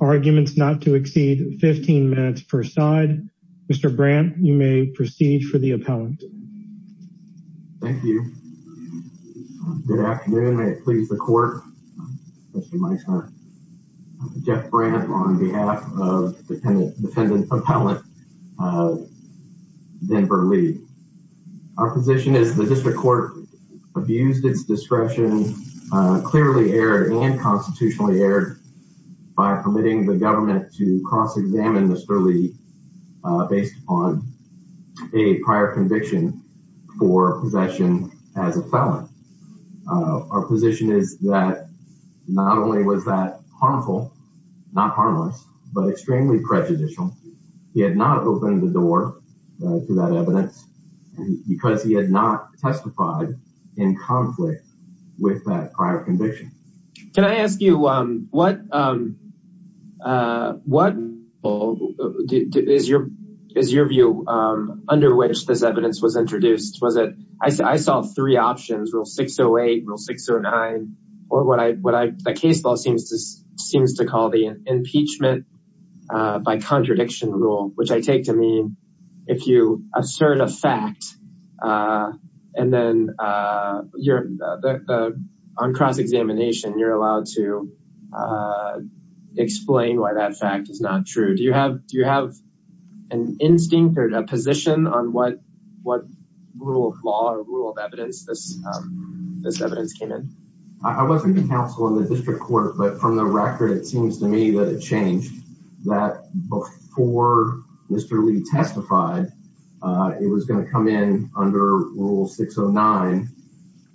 Arguments not to exceed 15 minutes per side. Mr. Brandt, you may proceed for the appellant. Thank you. Good afternoon. I please the court. Jeff Brandt on behalf of the defendant appellant of Denver Lee. Our position is the district court abused its discretion, clearly erred and constitutionally erred by permitting the government to cross-examine Mr. Lee based upon a prior conviction for possession as a felon. Our position is that not only was that open the door to that evidence because he had not testified in conflict with that prior conviction. Can I ask you what is your view under which this evidence was introduced? I saw three options, rule 608, rule 609, or what the case law seems to call the impeachment by contradiction rule, which I take to mean if you assert a fact and then on cross-examination you're allowed to explain why that fact is not true. Do you have an instinct or a position on what rule of law or rule of evidence this evidence came in? I wasn't counsel in the district court, but from the record it seems to me that it changed that before Mr. Lee testified it was going to come in under rule 609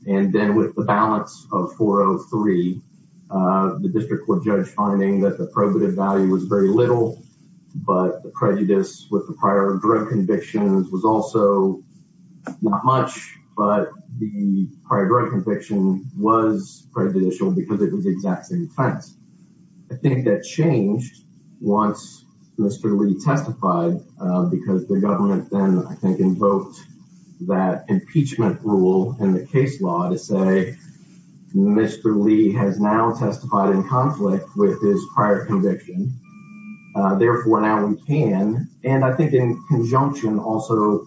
and then with the balance of 403 the district court judge finding that the probative value was very little but the prejudice with the prior drug convictions was also not much but the prior drug conviction was prejudicial because it was the exact same offense. I think that changed once Mr. Lee testified because the government then I think invoked that impeachment rule in the case law to say Mr. Lee has now testified in conflict with his prior conviction therefore now we can and I think in conjunction also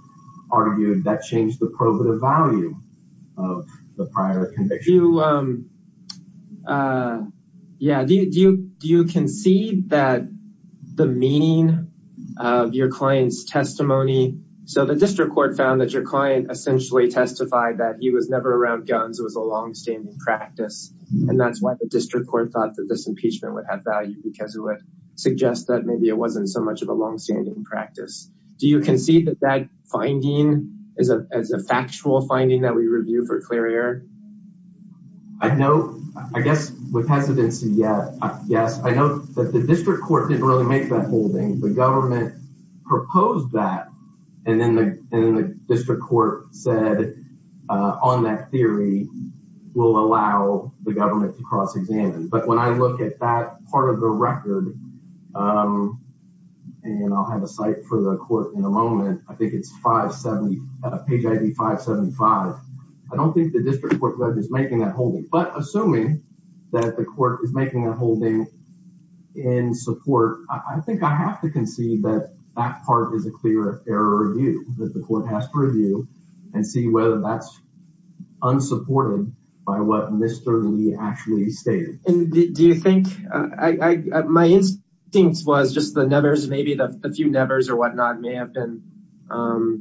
argued that changed the probative value of the prior conviction. Do you concede that the meaning of your client's testimony so the district court found that your client essentially testified that he was never around guns was a long-standing practice and that's why the district court thought that this value because it would suggest that maybe it wasn't so much of a long-standing practice. Do you concede that that finding is a factual finding that we review for clear error? I know I guess with hesitancy yes I know that the district court didn't really make that holding the government proposed that and then the district court said on that theory will allow the government to cross-examine but when I look at that part of the record and I'll have a site for the court in a moment I think it's 570 page id 575 I don't think the district court is making that holding but assuming that the court is making a holding in support I think I have to concede that that part is a clear error review that the court has to review and see whether that's unsupported by what Mr. Lee actually stated. And do you think I my instincts was just the nevers maybe the few nevers or whatnot may have been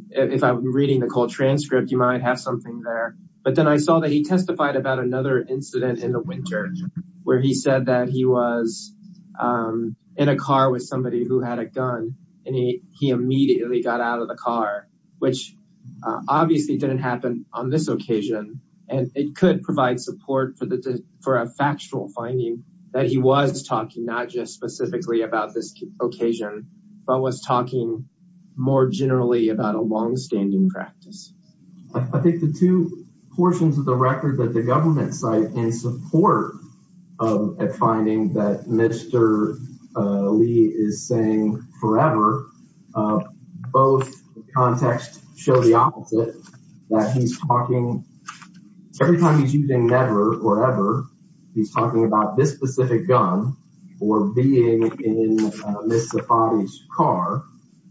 if I'm reading the cold transcript you might have something there but then I saw that he testified about another incident in the winter where he said that he was in a car with somebody who had a gun and he he immediately got out of the car which obviously didn't happen on this occasion and it could provide support for the for a factual finding that he was talking not just specifically about this occasion but was talking more generally about a long-standing practice. I think the two portions of the record that the context show the opposite that he's talking every time he's using never or ever he's talking about this specific gun or being in Ms. Safadi's car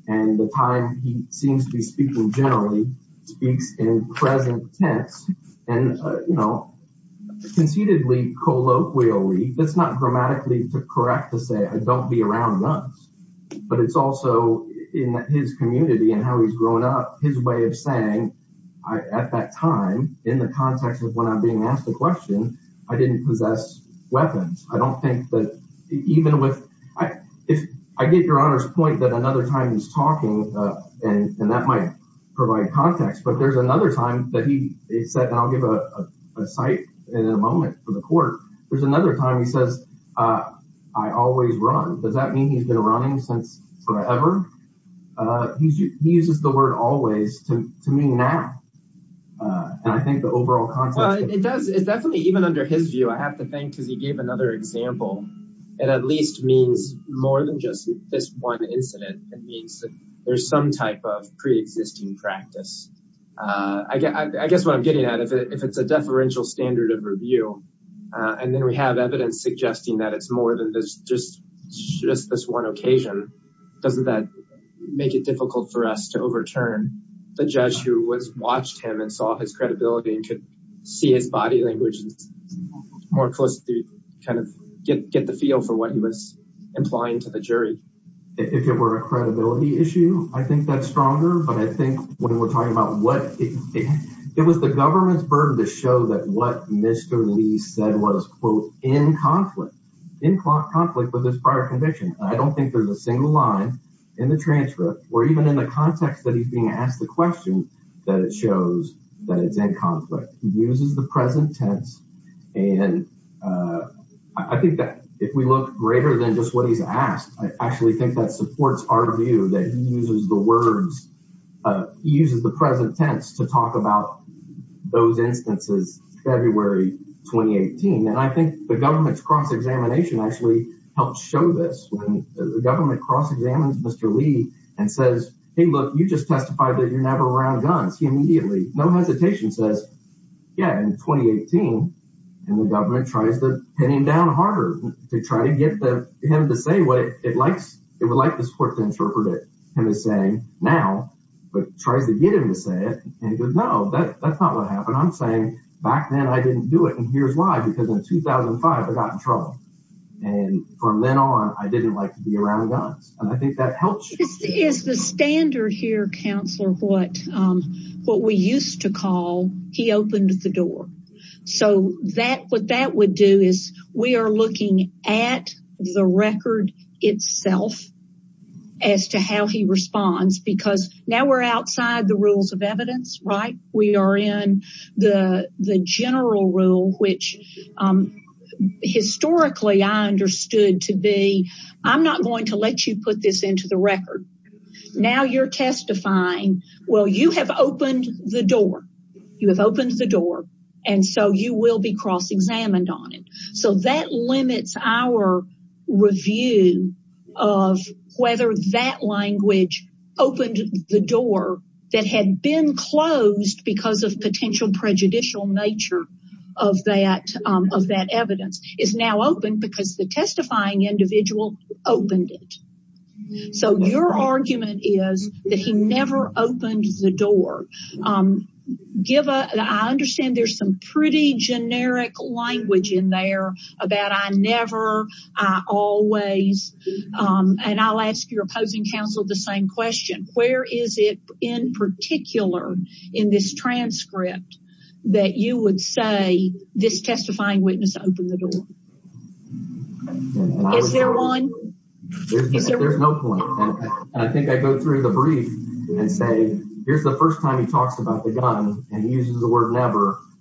and the time he seems to be speaking generally speaks in present tense and you know conceitedly colloquially that's not grammatically to correct to say I don't be around guns but it's also in his community and how he's grown up his way of saying I at that time in the context of when I'm being asked a question I didn't possess weapons. I don't think that even with I if I get your honor's point that another time he's talking and that might provide context but there's another time that he said and I'll give a cite in a moment for the court there's another time he says I always run does that mean he's been running since forever? He uses the word always to mean now and I think the overall context it does it's definitely even under his view I have to think because he gave another example it at least means more than just this one incident it means that there's some type of review and then we have evidence suggesting that it's more than this just just this one occasion doesn't that make it difficult for us to overturn the judge who was watched him and saw his credibility and could see his body language more closely kind of get get the feel for what he was implying to the jury. If it were a credibility issue I think that's stronger but I think when what Mr. Lee said was quote in conflict in conflict with this prior conviction I don't think there's a single line in the transcript or even in the context that he's being asked the question that it shows that it's in conflict he uses the present tense and I think that if we look greater than just what he's asked I actually think that supports our view that he uses the present tense to talk about those instances February 2018 and I think the government's cross-examination actually helps show this when the government cross-examines Mr. Lee and says hey look you just testified that you're never around guns he immediately no hesitation says yeah in 2018 and the government tries to pin him down harder to try to get the him to say what it said and he goes no that that's not what happened I'm saying back then I didn't do it and here's why because in 2005 I got in trouble and from then on I didn't like to be around guns and I think that helps is the standard here counselor what um what we used to call he opened the door so that what that would do is we are looking at the record itself as to how he responds because now we're outside the rules of evidence right we are in the the general rule which historically I understood to be I'm not going to let you put this into the record now you're testifying well you have opened the door you have opened the door and so you will be cross-examined on it so that limits our review of whether that language opened the door that had been closed because of potential prejudicial nature of that of that evidence is now open because the testifying individual opened it so your argument is that he never opened the door um give a I understand there's some pretty generic language in there about I never I always um and I'll ask your opposing counsel the same question where is it in particular in this transcript that you would say this testifying witness opened the door is there one there's no point and I think I go through the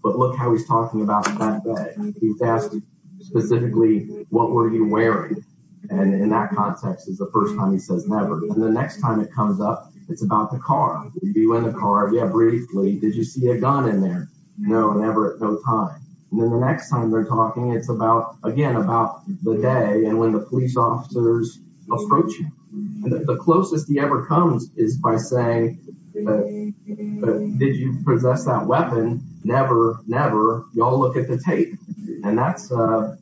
look how he's talking about that day he's asking specifically what were you wearing and in that context is the first time he says never and the next time it comes up it's about the car you in the car yeah briefly did you see a gun in there no never at no time then the next time they're talking it's about again about the day and when the police officers approach you and y'all look at the tape and that's uh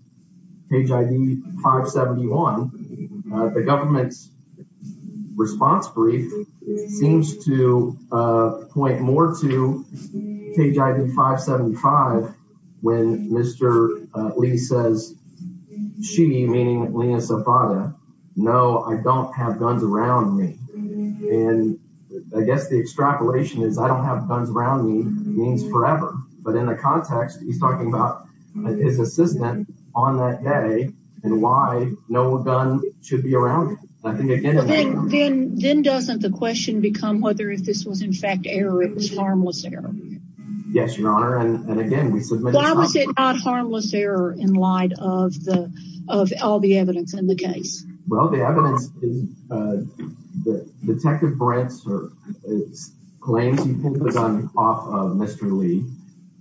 page id 571 uh the government's response brief seems to uh point more to page id 575 when mr lee says she meaning lena safada no I don't have guns around me and I guess the extrapolation is I don't have guns around me means forever but in the context he's talking about his assistant on that day and why no gun should be around I think again then then doesn't the question become whether if this was in fact error it was harmless error yes your honor and again we submitted why was it not harmless error in light of the of all the evidence in the case well the evidence is uh the detective brents or claims he pulled the gun off of mr lee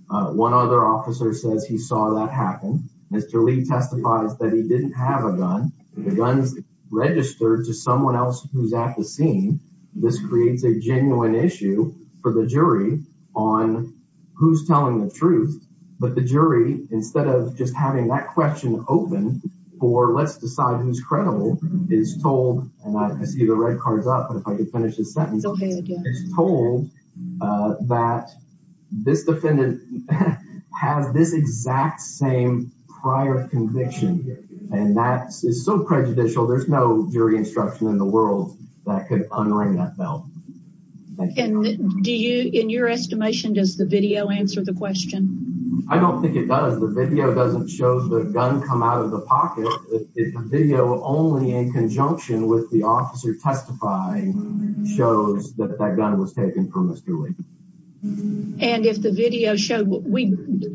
uh one other officer says he saw that happen mr lee testifies that he didn't have a gun the guns registered to someone else who's at the scene this creates a genuine issue for the jury on who's telling the truth but the jury instead of just having that question open for let's decide who's credible is told and I see the but if I could finish this sentence it's told uh that this defendant has this exact same prior conviction and that is so prejudicial there's no jury instruction in the world that could unring that bell and do you in your estimation does the video answer the question I don't think it does the video doesn't show the gun come out of the pocket it's a video only in conjunction with the officer testifying shows that that gun was taken for mr lee and if the video showed we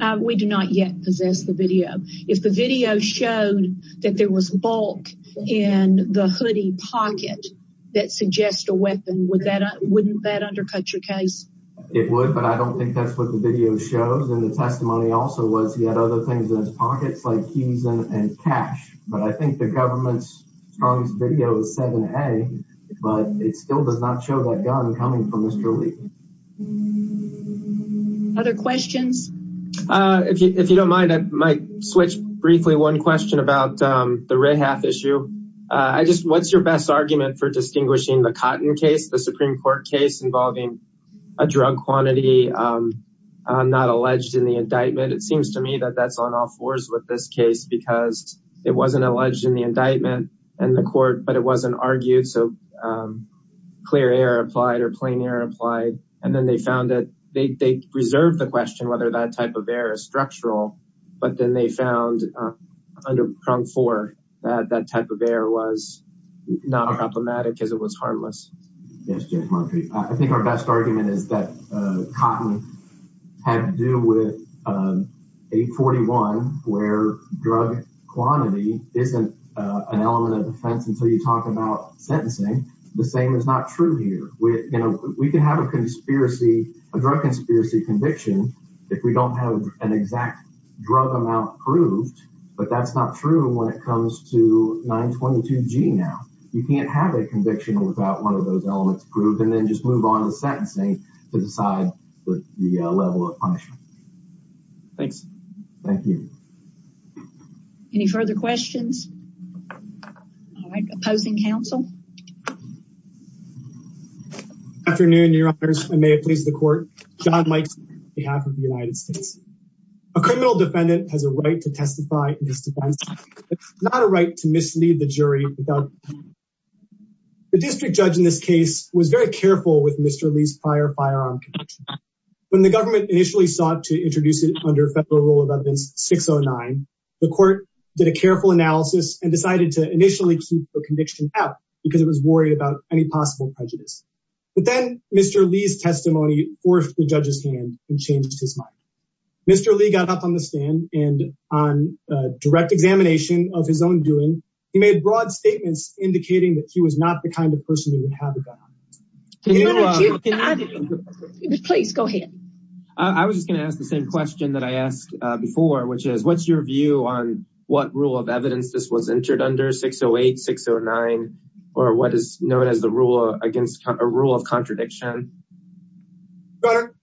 uh we do not yet possess the video if the video showed that there was bulk in the hoodie pocket that suggests a weapon would that wouldn't that undercut your case it would but I don't think that's what the video shows and the testimony also was he had other things in his pockets like keys and cash but I think the government's strongest video was 7a but it still does not show that gun coming from mr lee other questions uh if you if you don't mind I might switch briefly one question about um the rehaf issue uh I just what's your best argument for distinguishing the cotton case the supreme court case involving a drug quantity um not alleged in the indictment it seems to me that that's on all fours with this case because it wasn't alleged in the indictment and the court but it wasn't argued so um clear air applied or plain air applied and then they found that they they reserved the question whether that type of air is structural but then they found under prong four that that type of air was not problematic it was harmless I think our best argument is that cotton had to do with 841 where drug quantity isn't an element of defense until you talk about sentencing the same is not true here we you know we can have a conspiracy a drug conspiracy conviction if we don't have an exact drug amount approved but that's not true when it comes to 922 g now you can't have a conviction without one of those elements approved and then just move on to sentencing to decide with the level of punishment thanks thank you any further questions all right opposing counsel afternoon your honors and may it please the court john mikes on behalf of the united states a criminal defendant has a right to testify in this defense it's not a right to mislead the jury the district judge in this case was very careful with mr lee's prior firearm when the government initially sought to introduce it under federal rule of evidence 609 the court did a careful analysis and decided to initially keep the conviction out because it was worried about any possible prejudice but then mr lee's testimony forced the judge's hand and changed his mr lee got up on the stand and on direct examination of his own doing he made broad statements indicating that he was not the kind of person who would have a gun please go ahead i was just going to ask the same question that i asked before which is what's your view on what rule of evidence this was entered under 608 609 or what is known as the rule against a rule of contradiction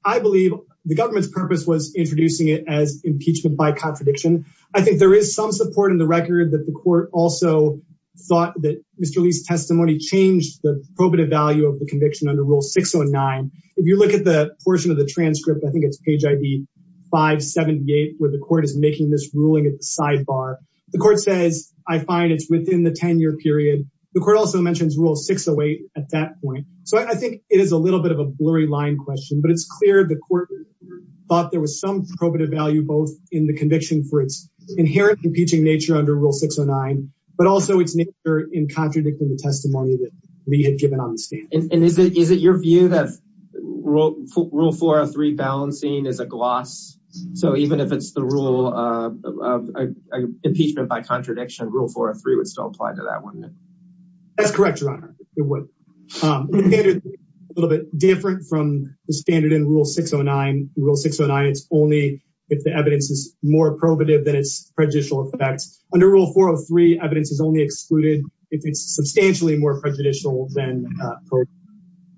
i believe the government's purpose was introducing it as impeachment by contradiction i think there is some support in the record that the court also thought that mr lee's testimony changed the probative value of the conviction under rule 609 if you look at the portion of the transcript i think it's page id 578 where the court is making this ruling at the sidebar the court says i find it's within the 10-year period the court also mentions rule 608 at that point so i think it is a little bit of a blurry line question but it's clear the court thought there was some probative value both in the conviction for its inherent impeaching nature under rule 609 but also its nature in contradicting the testimony that we had given on the stand and is it is it your view that rule rule 403 balancing is a gloss so even if it's the rule of impeachment by contradiction rule 403 would still apply to that one that's correct your honor it would um a little bit different from the standard in rule 609 rule 609 it's only if the evidence is more probative than its prejudicial effects under rule 403 evidence is only excluded if it's substantially more prejudicial than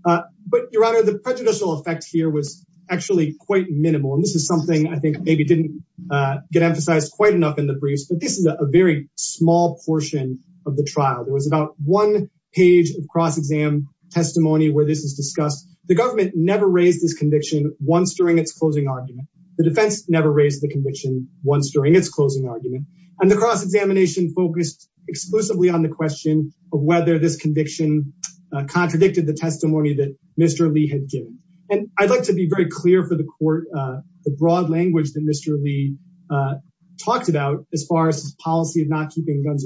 uh but your honor the prejudicial effect here was actually quite minimal and this is something i think maybe didn't uh get emphasized quite enough in the briefs but this is a very small portion of the trial there was about one page of cross-exam testimony where this is discussed the government never raised this conviction once during its closing argument the defense never raised the conviction once during its closing argument and the cross-examination focused exclusively on the question of whether this conviction contradicted the testimony that mr lee had given and i'd like to be very clear for the court uh the broad language that mr lee uh talked about as far as his policy of not keeping guns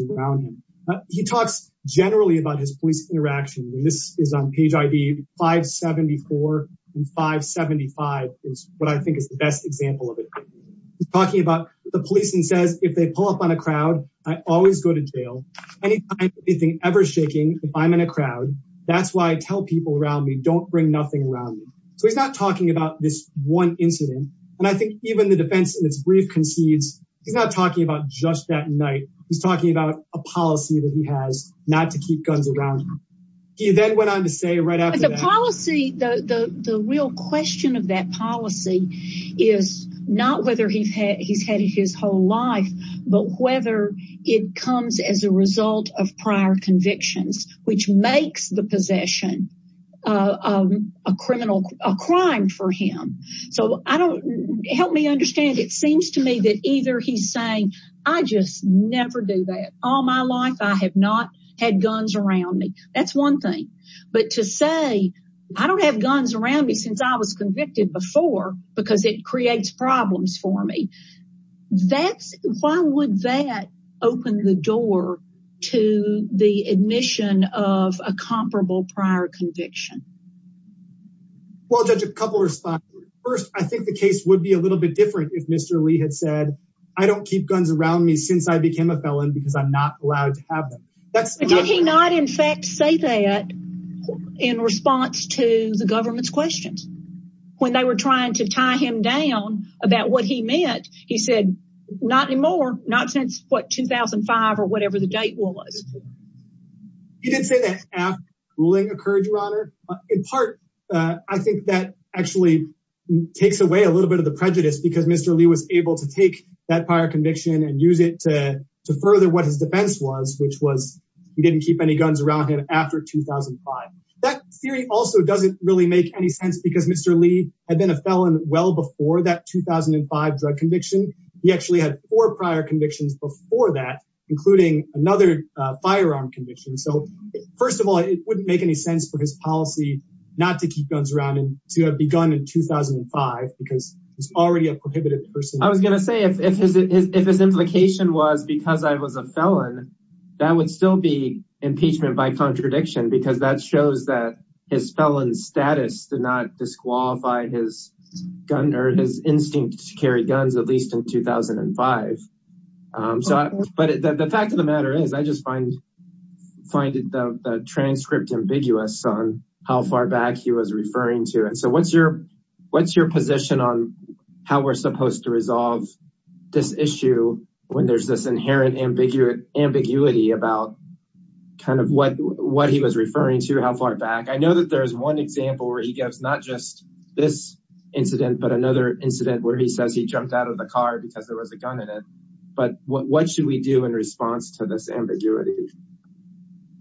he talks generally about his police interaction this is on page id 574 and 575 is what i think is the best example of it he's talking about the police and says if they pull up on a crowd i always go to jail any time anything ever shaking if i'm in a crowd that's why i tell people around me don't bring nothing around me so he's not talking about this one incident and i think even the defense in just that night he's talking about a policy that he has not to keep guns around him he then went on to say right after the policy the the the real question of that policy is not whether he's had he's had his whole life but whether it comes as a result of prior convictions which makes the possession of a criminal a crime for him so i don't help me understand it seems to me that either he's saying i just never do that all my life i have not had guns around me that's one thing but to say i don't have guns around me since i was convicted before because it creates problems for me that's why would that open the door to the admission of a comparable prior conviction well judge a couple responses first i think the case would be a little bit different if mr lee had said i don't keep guns around me since i became a felon because i'm not allowed to have them that's did he not in fact say that in response to the government's questions when they were trying to tie him down about what he meant he said not anymore not since what 2005 or whatever the date was he didn't say that after ruling occurred your honor in part uh i think that actually takes away a little bit of the prejudice because mr lee was able to take that prior conviction and use it to to further what his defense was which was he didn't keep any guns around him after 2005 that theory also doesn't really make any sense because mr lee had been a felon well before that 2005 drug conviction he actually had four prior convictions before that including another firearm conviction so first of all it wouldn't make any sense for his policy not to keep guns around and to have begun in 2005 because he's already a prohibited person i was going to say if his if his implication was because i was a felon that would still be impeachment by contradiction because that shows that his felon status did not disqualify his gun or his instinct to carry guns at least in 2005 um so but the fact of the matter is i just find find it the transcript ambiguous on how far back he was referring to and so what's your what's your position on how we're supposed to resolve this issue when there's this inherent ambiguity about kind of what what he was referring to how far back i know that there's one example where he gives not just this incident but another incident where he says he jumped out of the car because there was a gun in it but what should we do in response to this ambiguity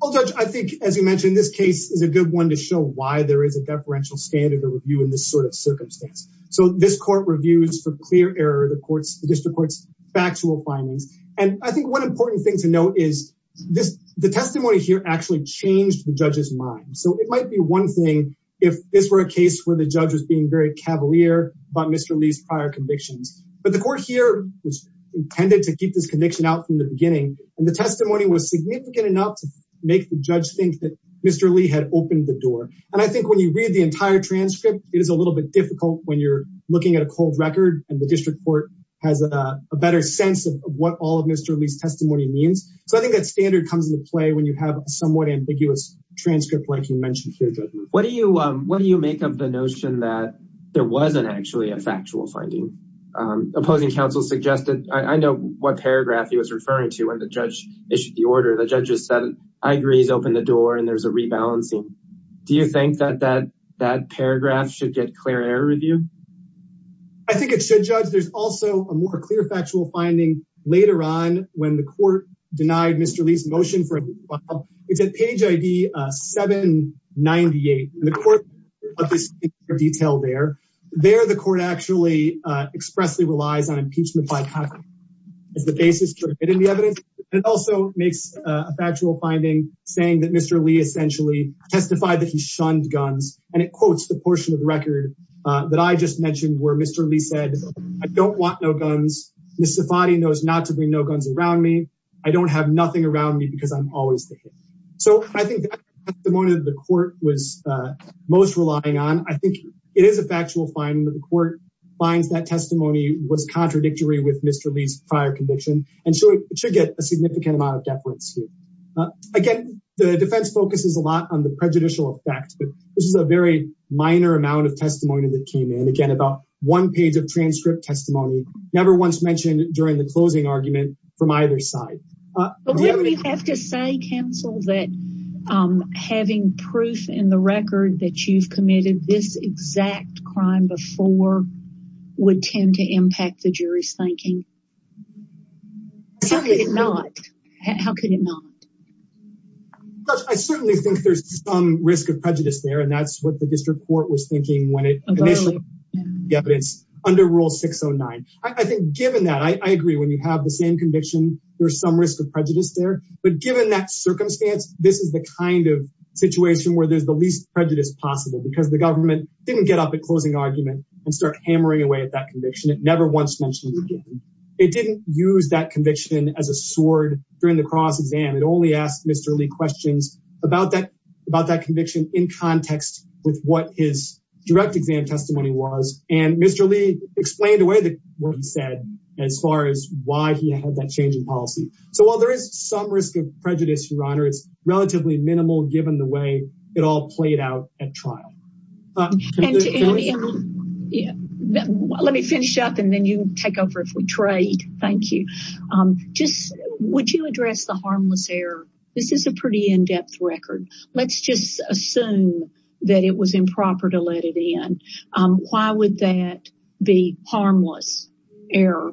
oh judge i think as you mentioned this case is a good one to show why there is a deferential standard of review in this sort of circumstance so this court reviews for clear error the courts the district court's factual findings and i think one important thing to note is this the testimony here actually changed the judge's mind so it might be one thing if this were a case where the judge being very cavalier about mr lee's prior convictions but the court here was intended to keep this conviction out from the beginning and the testimony was significant enough to make the judge think that mr lee had opened the door and i think when you read the entire transcript it is a little bit difficult when you're looking at a cold record and the district court has a better sense of what all of mr lee's testimony means so i think that standard comes into play when you have a somewhat ambiguous transcript like you mentioned here what do you um what do you make of the notion that there wasn't actually a factual finding um opposing counsel suggested i know what paragraph he was referring to when the judge issued the order the judges said i agree he's opened the door and there's a rebalancing do you think that that that paragraph should get clear error review i think it should judge there's also a more clear factual finding later on when the detail there there the court actually uh expressly relies on impeachment by as the basis for getting the evidence it also makes a factual finding saying that mr lee essentially testified that he shunned guns and it quotes the portion of the record uh that i just mentioned where mr lee said i don't want no guns miss safadi knows not to bring no guns around me i don't have nothing around me because i'm always there so i think at the moment the court was uh relying on i think it is a factual finding that the court finds that testimony was contradictory with mr lee's prior conviction and so it should get a significant amount of deference here again the defense focuses a lot on the prejudicial effect but this is a very minor amount of testimony that came in again about one page of transcript testimony never once mentioned during the closing argument from either side but we have to say counsel that um having proof in the record that you've committed this exact crime before would tend to impact the jury's thinking certainly not how could it not i certainly think there's some risk of prejudice there and that's what the district court was thinking when it initially yeah but it's under rule 609 i think given that i i agree when you have the same conviction there's some risk of prejudice there but given that circumstance this is the kind of situation where there's the least prejudice possible because the government didn't get up at closing argument and start hammering away at that conviction it never once mentioned again it didn't use that conviction as a sword during the cross exam it only asked mr lee questions about that about that conviction in context with what his direct exam testimony was and mr lee explained away that what he said as far as why he had that change in policy so while there is some risk of prejudice your honor it's relatively minimal given the way it all played out at trial um yeah let me finish up and then you take over if we trade thank you um just would you address the harmless error this is a pretty in-depth record let's just assume that it was improper to let it in um why would that be harmless error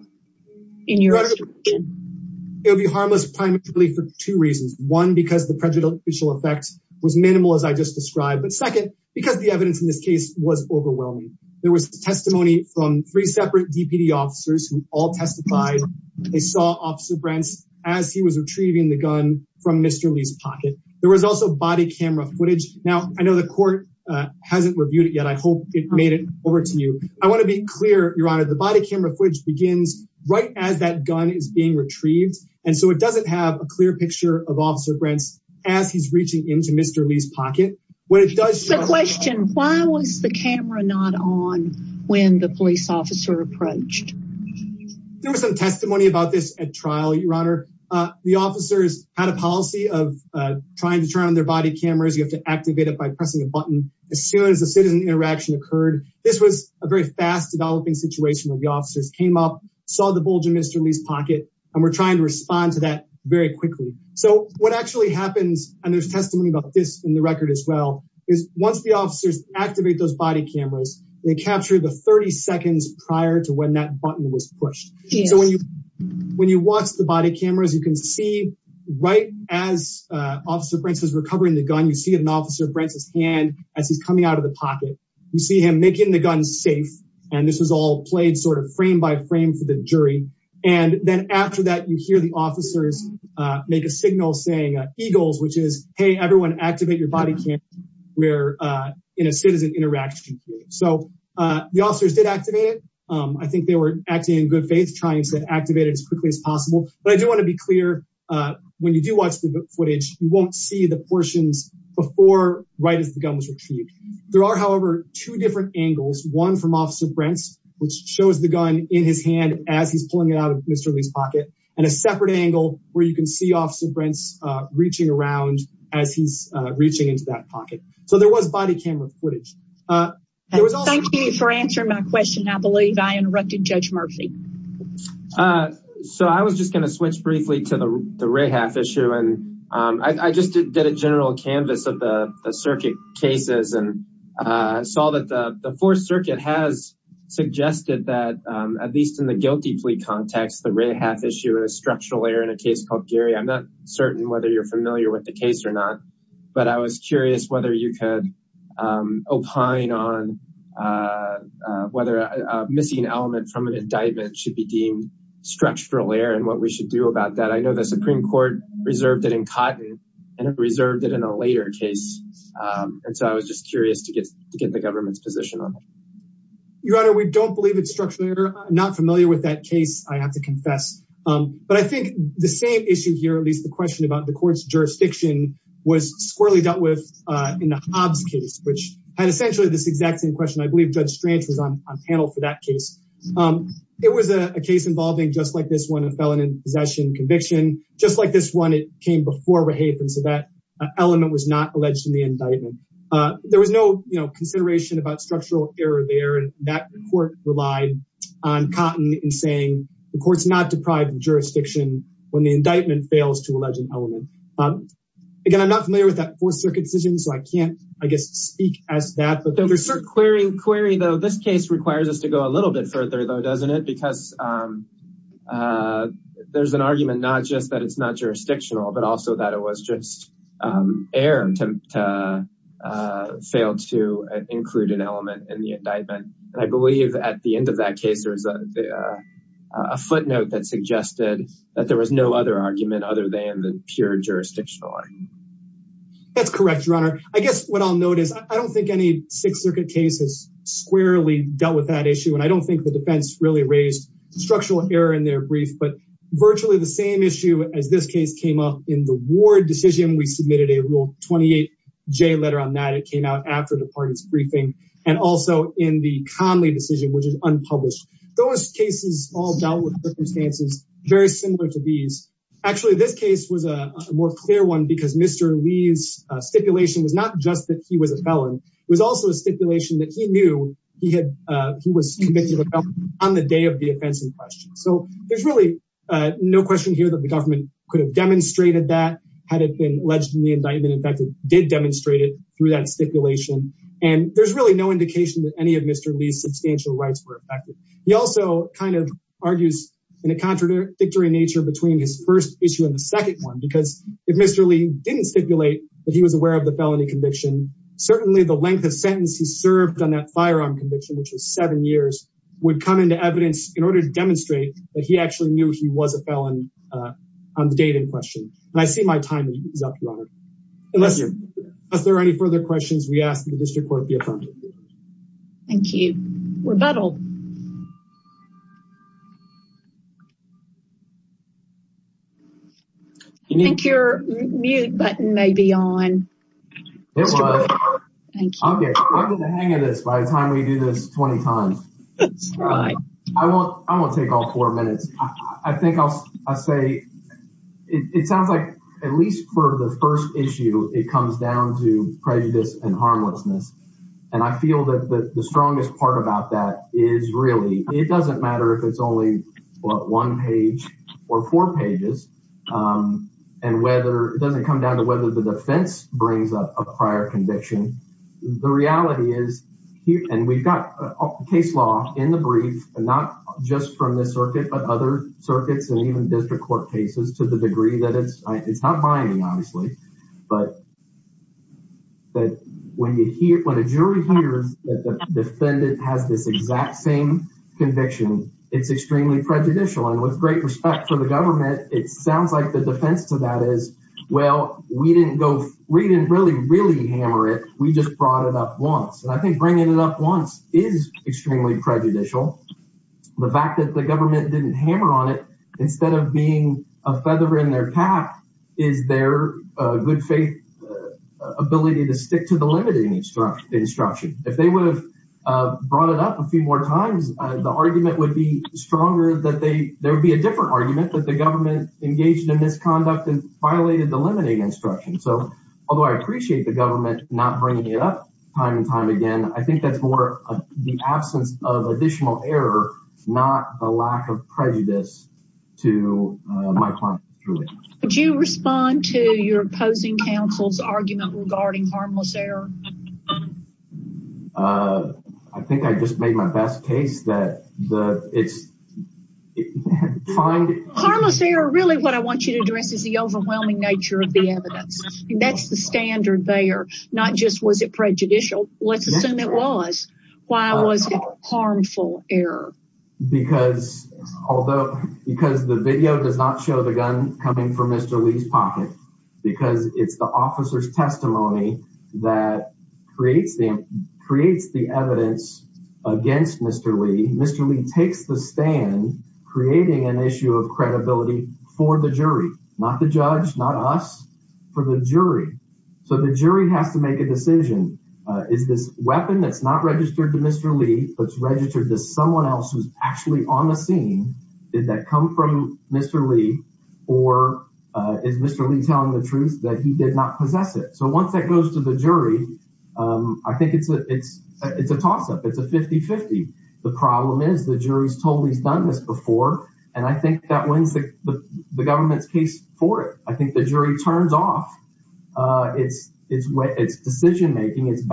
in your it would be harmless primarily for two reasons one because the prejudicial effect was minimal as i just described but second because the evidence in this case was overwhelming there was testimony from three separate dpd officers who all testified they saw officer brents as he was retrieving the gun from mr lee's pocket there was also body camera footage now i know the court uh hasn't reviewed it yet i hope it made it over to you i want to be clear your honor the body camera footage begins right as that gun is being retrieved and so it doesn't have a clear picture of officer brents as he's reaching into mr lee's pocket what it does the question why was the camera not on when the police officer approached there was some testimony about this at trial your honor uh the officers had a policy of uh trying to turn on their body cameras you have to activate it by pressing a button as soon as the citizen interaction occurred this was a fast developing situation where the officers came up saw the bulge in mr lee's pocket and we're trying to respond to that very quickly so what actually happens and there's testimony about this in the record as well is once the officers activate those body cameras they capture the 30 seconds prior to when that button was pushed so when you when you watch the body cameras you can see right as uh officer prince is recovering the gun you see an officer brent's hand as he's coming out of the pocket you see him making the gun safe and this was all played sort of frame by frame for the jury and then after that you hear the officers make a signal saying eagles which is hey everyone activate your body cam we're uh in a citizen interaction period so uh the officers did activate it um i think they were acting in good faith trying to activate it as quickly as possible but i do want to be clear uh when you do watch the footage you won't see the portions before right as the gun was retrieved there are however two different angles one from officer brent's which shows the gun in his hand as he's pulling it out of mr lee's pocket and a separate angle where you can see officer brent's uh reaching around as he's uh reaching into that pocket so there was body camera footage uh thank you for answering my question i believe i interrupted judge murphy uh so i was just going to switch briefly to the the ray half issue and um i just did a canvas of the circuit cases and uh saw that the fourth circuit has suggested that um at least in the guilty plea context the ray half issue is structural error in a case called gary i'm not certain whether you're familiar with the case or not but i was curious whether you could um opine on uh whether a missing element from an indictment should be deemed structural error and what we do about that i know the supreme court reserved it in cotton and it reserved it in a later case um and so i was just curious to get to get the government's position on it your honor we don't believe it's structurally not familiar with that case i have to confess um but i think the same issue here at least the question about the court's jurisdiction was squirrelly dealt with uh in the hobbs case which had essentially this exact same question i believe judge stranch was on panel for that case um it was a case involving just like this one a felon in possession conviction just like this one it came before rahaf and so that element was not alleged in the indictment uh there was no you know consideration about structural error there and that court relied on cotton in saying the court's not deprived of jurisdiction when the indictment fails to allege an element um again i'm not familiar with that fourth circuit decision so i can't speak as that but there's a query query though this case requires us to go a little bit further though doesn't it because um uh there's an argument not just that it's not jurisdictional but also that it was just um air to uh failed to include an element in the indictment and i believe at the end of that case there was a footnote that suggested that there was no other i don't think any six circuit case has squarely dealt with that issue and i don't think the defense really raised structural error in their brief but virtually the same issue as this case came up in the ward decision we submitted a rule 28 j letter on that it came out after the party's briefing and also in the conley decision which is unpublished those cases all dealt with circumstances very similar to these actually this case was a more clear one because mr lee's stipulation was not just that he was a felon it was also a stipulation that he knew he had uh he was convicted on the day of the offensive question so there's really uh no question here that the government could have demonstrated that had it been alleged in the indictment in fact it did demonstrate it through that stipulation and there's really no indication that any of mr lee's substantial rights were affected he also kind of argues in a contradictory nature between his first issue and the second one because if mr lee didn't stipulate that he was aware of the felony conviction certainly the length of sentence he served on that firearm conviction which was seven years would come into evidence in order to demonstrate that he actually knew he was a felon on the date in question and i see my timing is up your honor unless there are any further questions we ask the district court the affirmative thank you rebuttal you think your mute button may be on thank you i'll get the hang of this by the time we do this 20 times that's right i won't i won't take all four minutes i think i'll i say it sounds like at least for the first issue it comes down to prejudice and harmlessness and i feel that the strongest part about that is really it doesn't matter if it's only one page or four pages um and whether it doesn't come down to whether the defense brings up a prior conviction the reality is and we've got a case law in the brief and not just from this circuit but other circuits and even district court cases to the degree that it's not binding obviously but that when you hear when a jury hears that the defendant has this exact same conviction it's extremely prejudicial and with great respect for the government it sounds like the defense to that is well we didn't go we didn't really really hammer it we just brought it up once and i think bringing it up once is extremely prejudicial the fact that the government didn't hammer on it instead of being a feather in their cap is their good faith ability to stick to the limiting instruction instruction if they would have brought it up a few more times the argument would be stronger that they there would be a different argument that the government engaged in misconduct and violated the limiting instruction so although i appreciate the government not bringing it up time and time again i think that's more the absence of additional error not the lack of prejudice to my client would you respond to your opposing counsel's argument regarding harmless error uh i think i just made my best case that the it's find harmless error really what i want you to address is the overwhelming nature of the evidence that's the standard there not just was it although because the video does not show the gun coming from mr lee's pocket because it's the officer's testimony that creates the creates the evidence against mr lee mr lee takes the stand creating an issue of credibility for the jury not the judge not us for the jury so the jury has to make a decision uh is this weapon that's not registered to mr lee but it's registered to someone else who's actually on the scene did that come from mr lee or uh is mr lee telling the truth that he did not possess it so once that goes to the jury um i think it's a it's it's a toss-up it's a 50 50 the problem is the jury's totally done this before and i think that wins the the government's case for it i think the jury turns off uh it's it's what it's decision making it's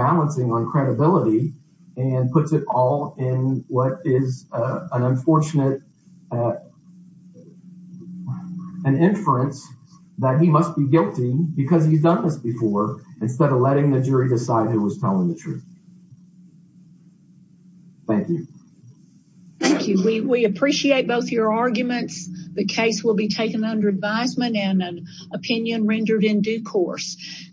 credibility and puts it all in what is an unfortunate an inference that he must be guilty because he's done this before instead of letting the jury decide who was telling the truth thank you thank you we we appreciate both your arguments the case will be taken under advisement and an opinion rendered in due course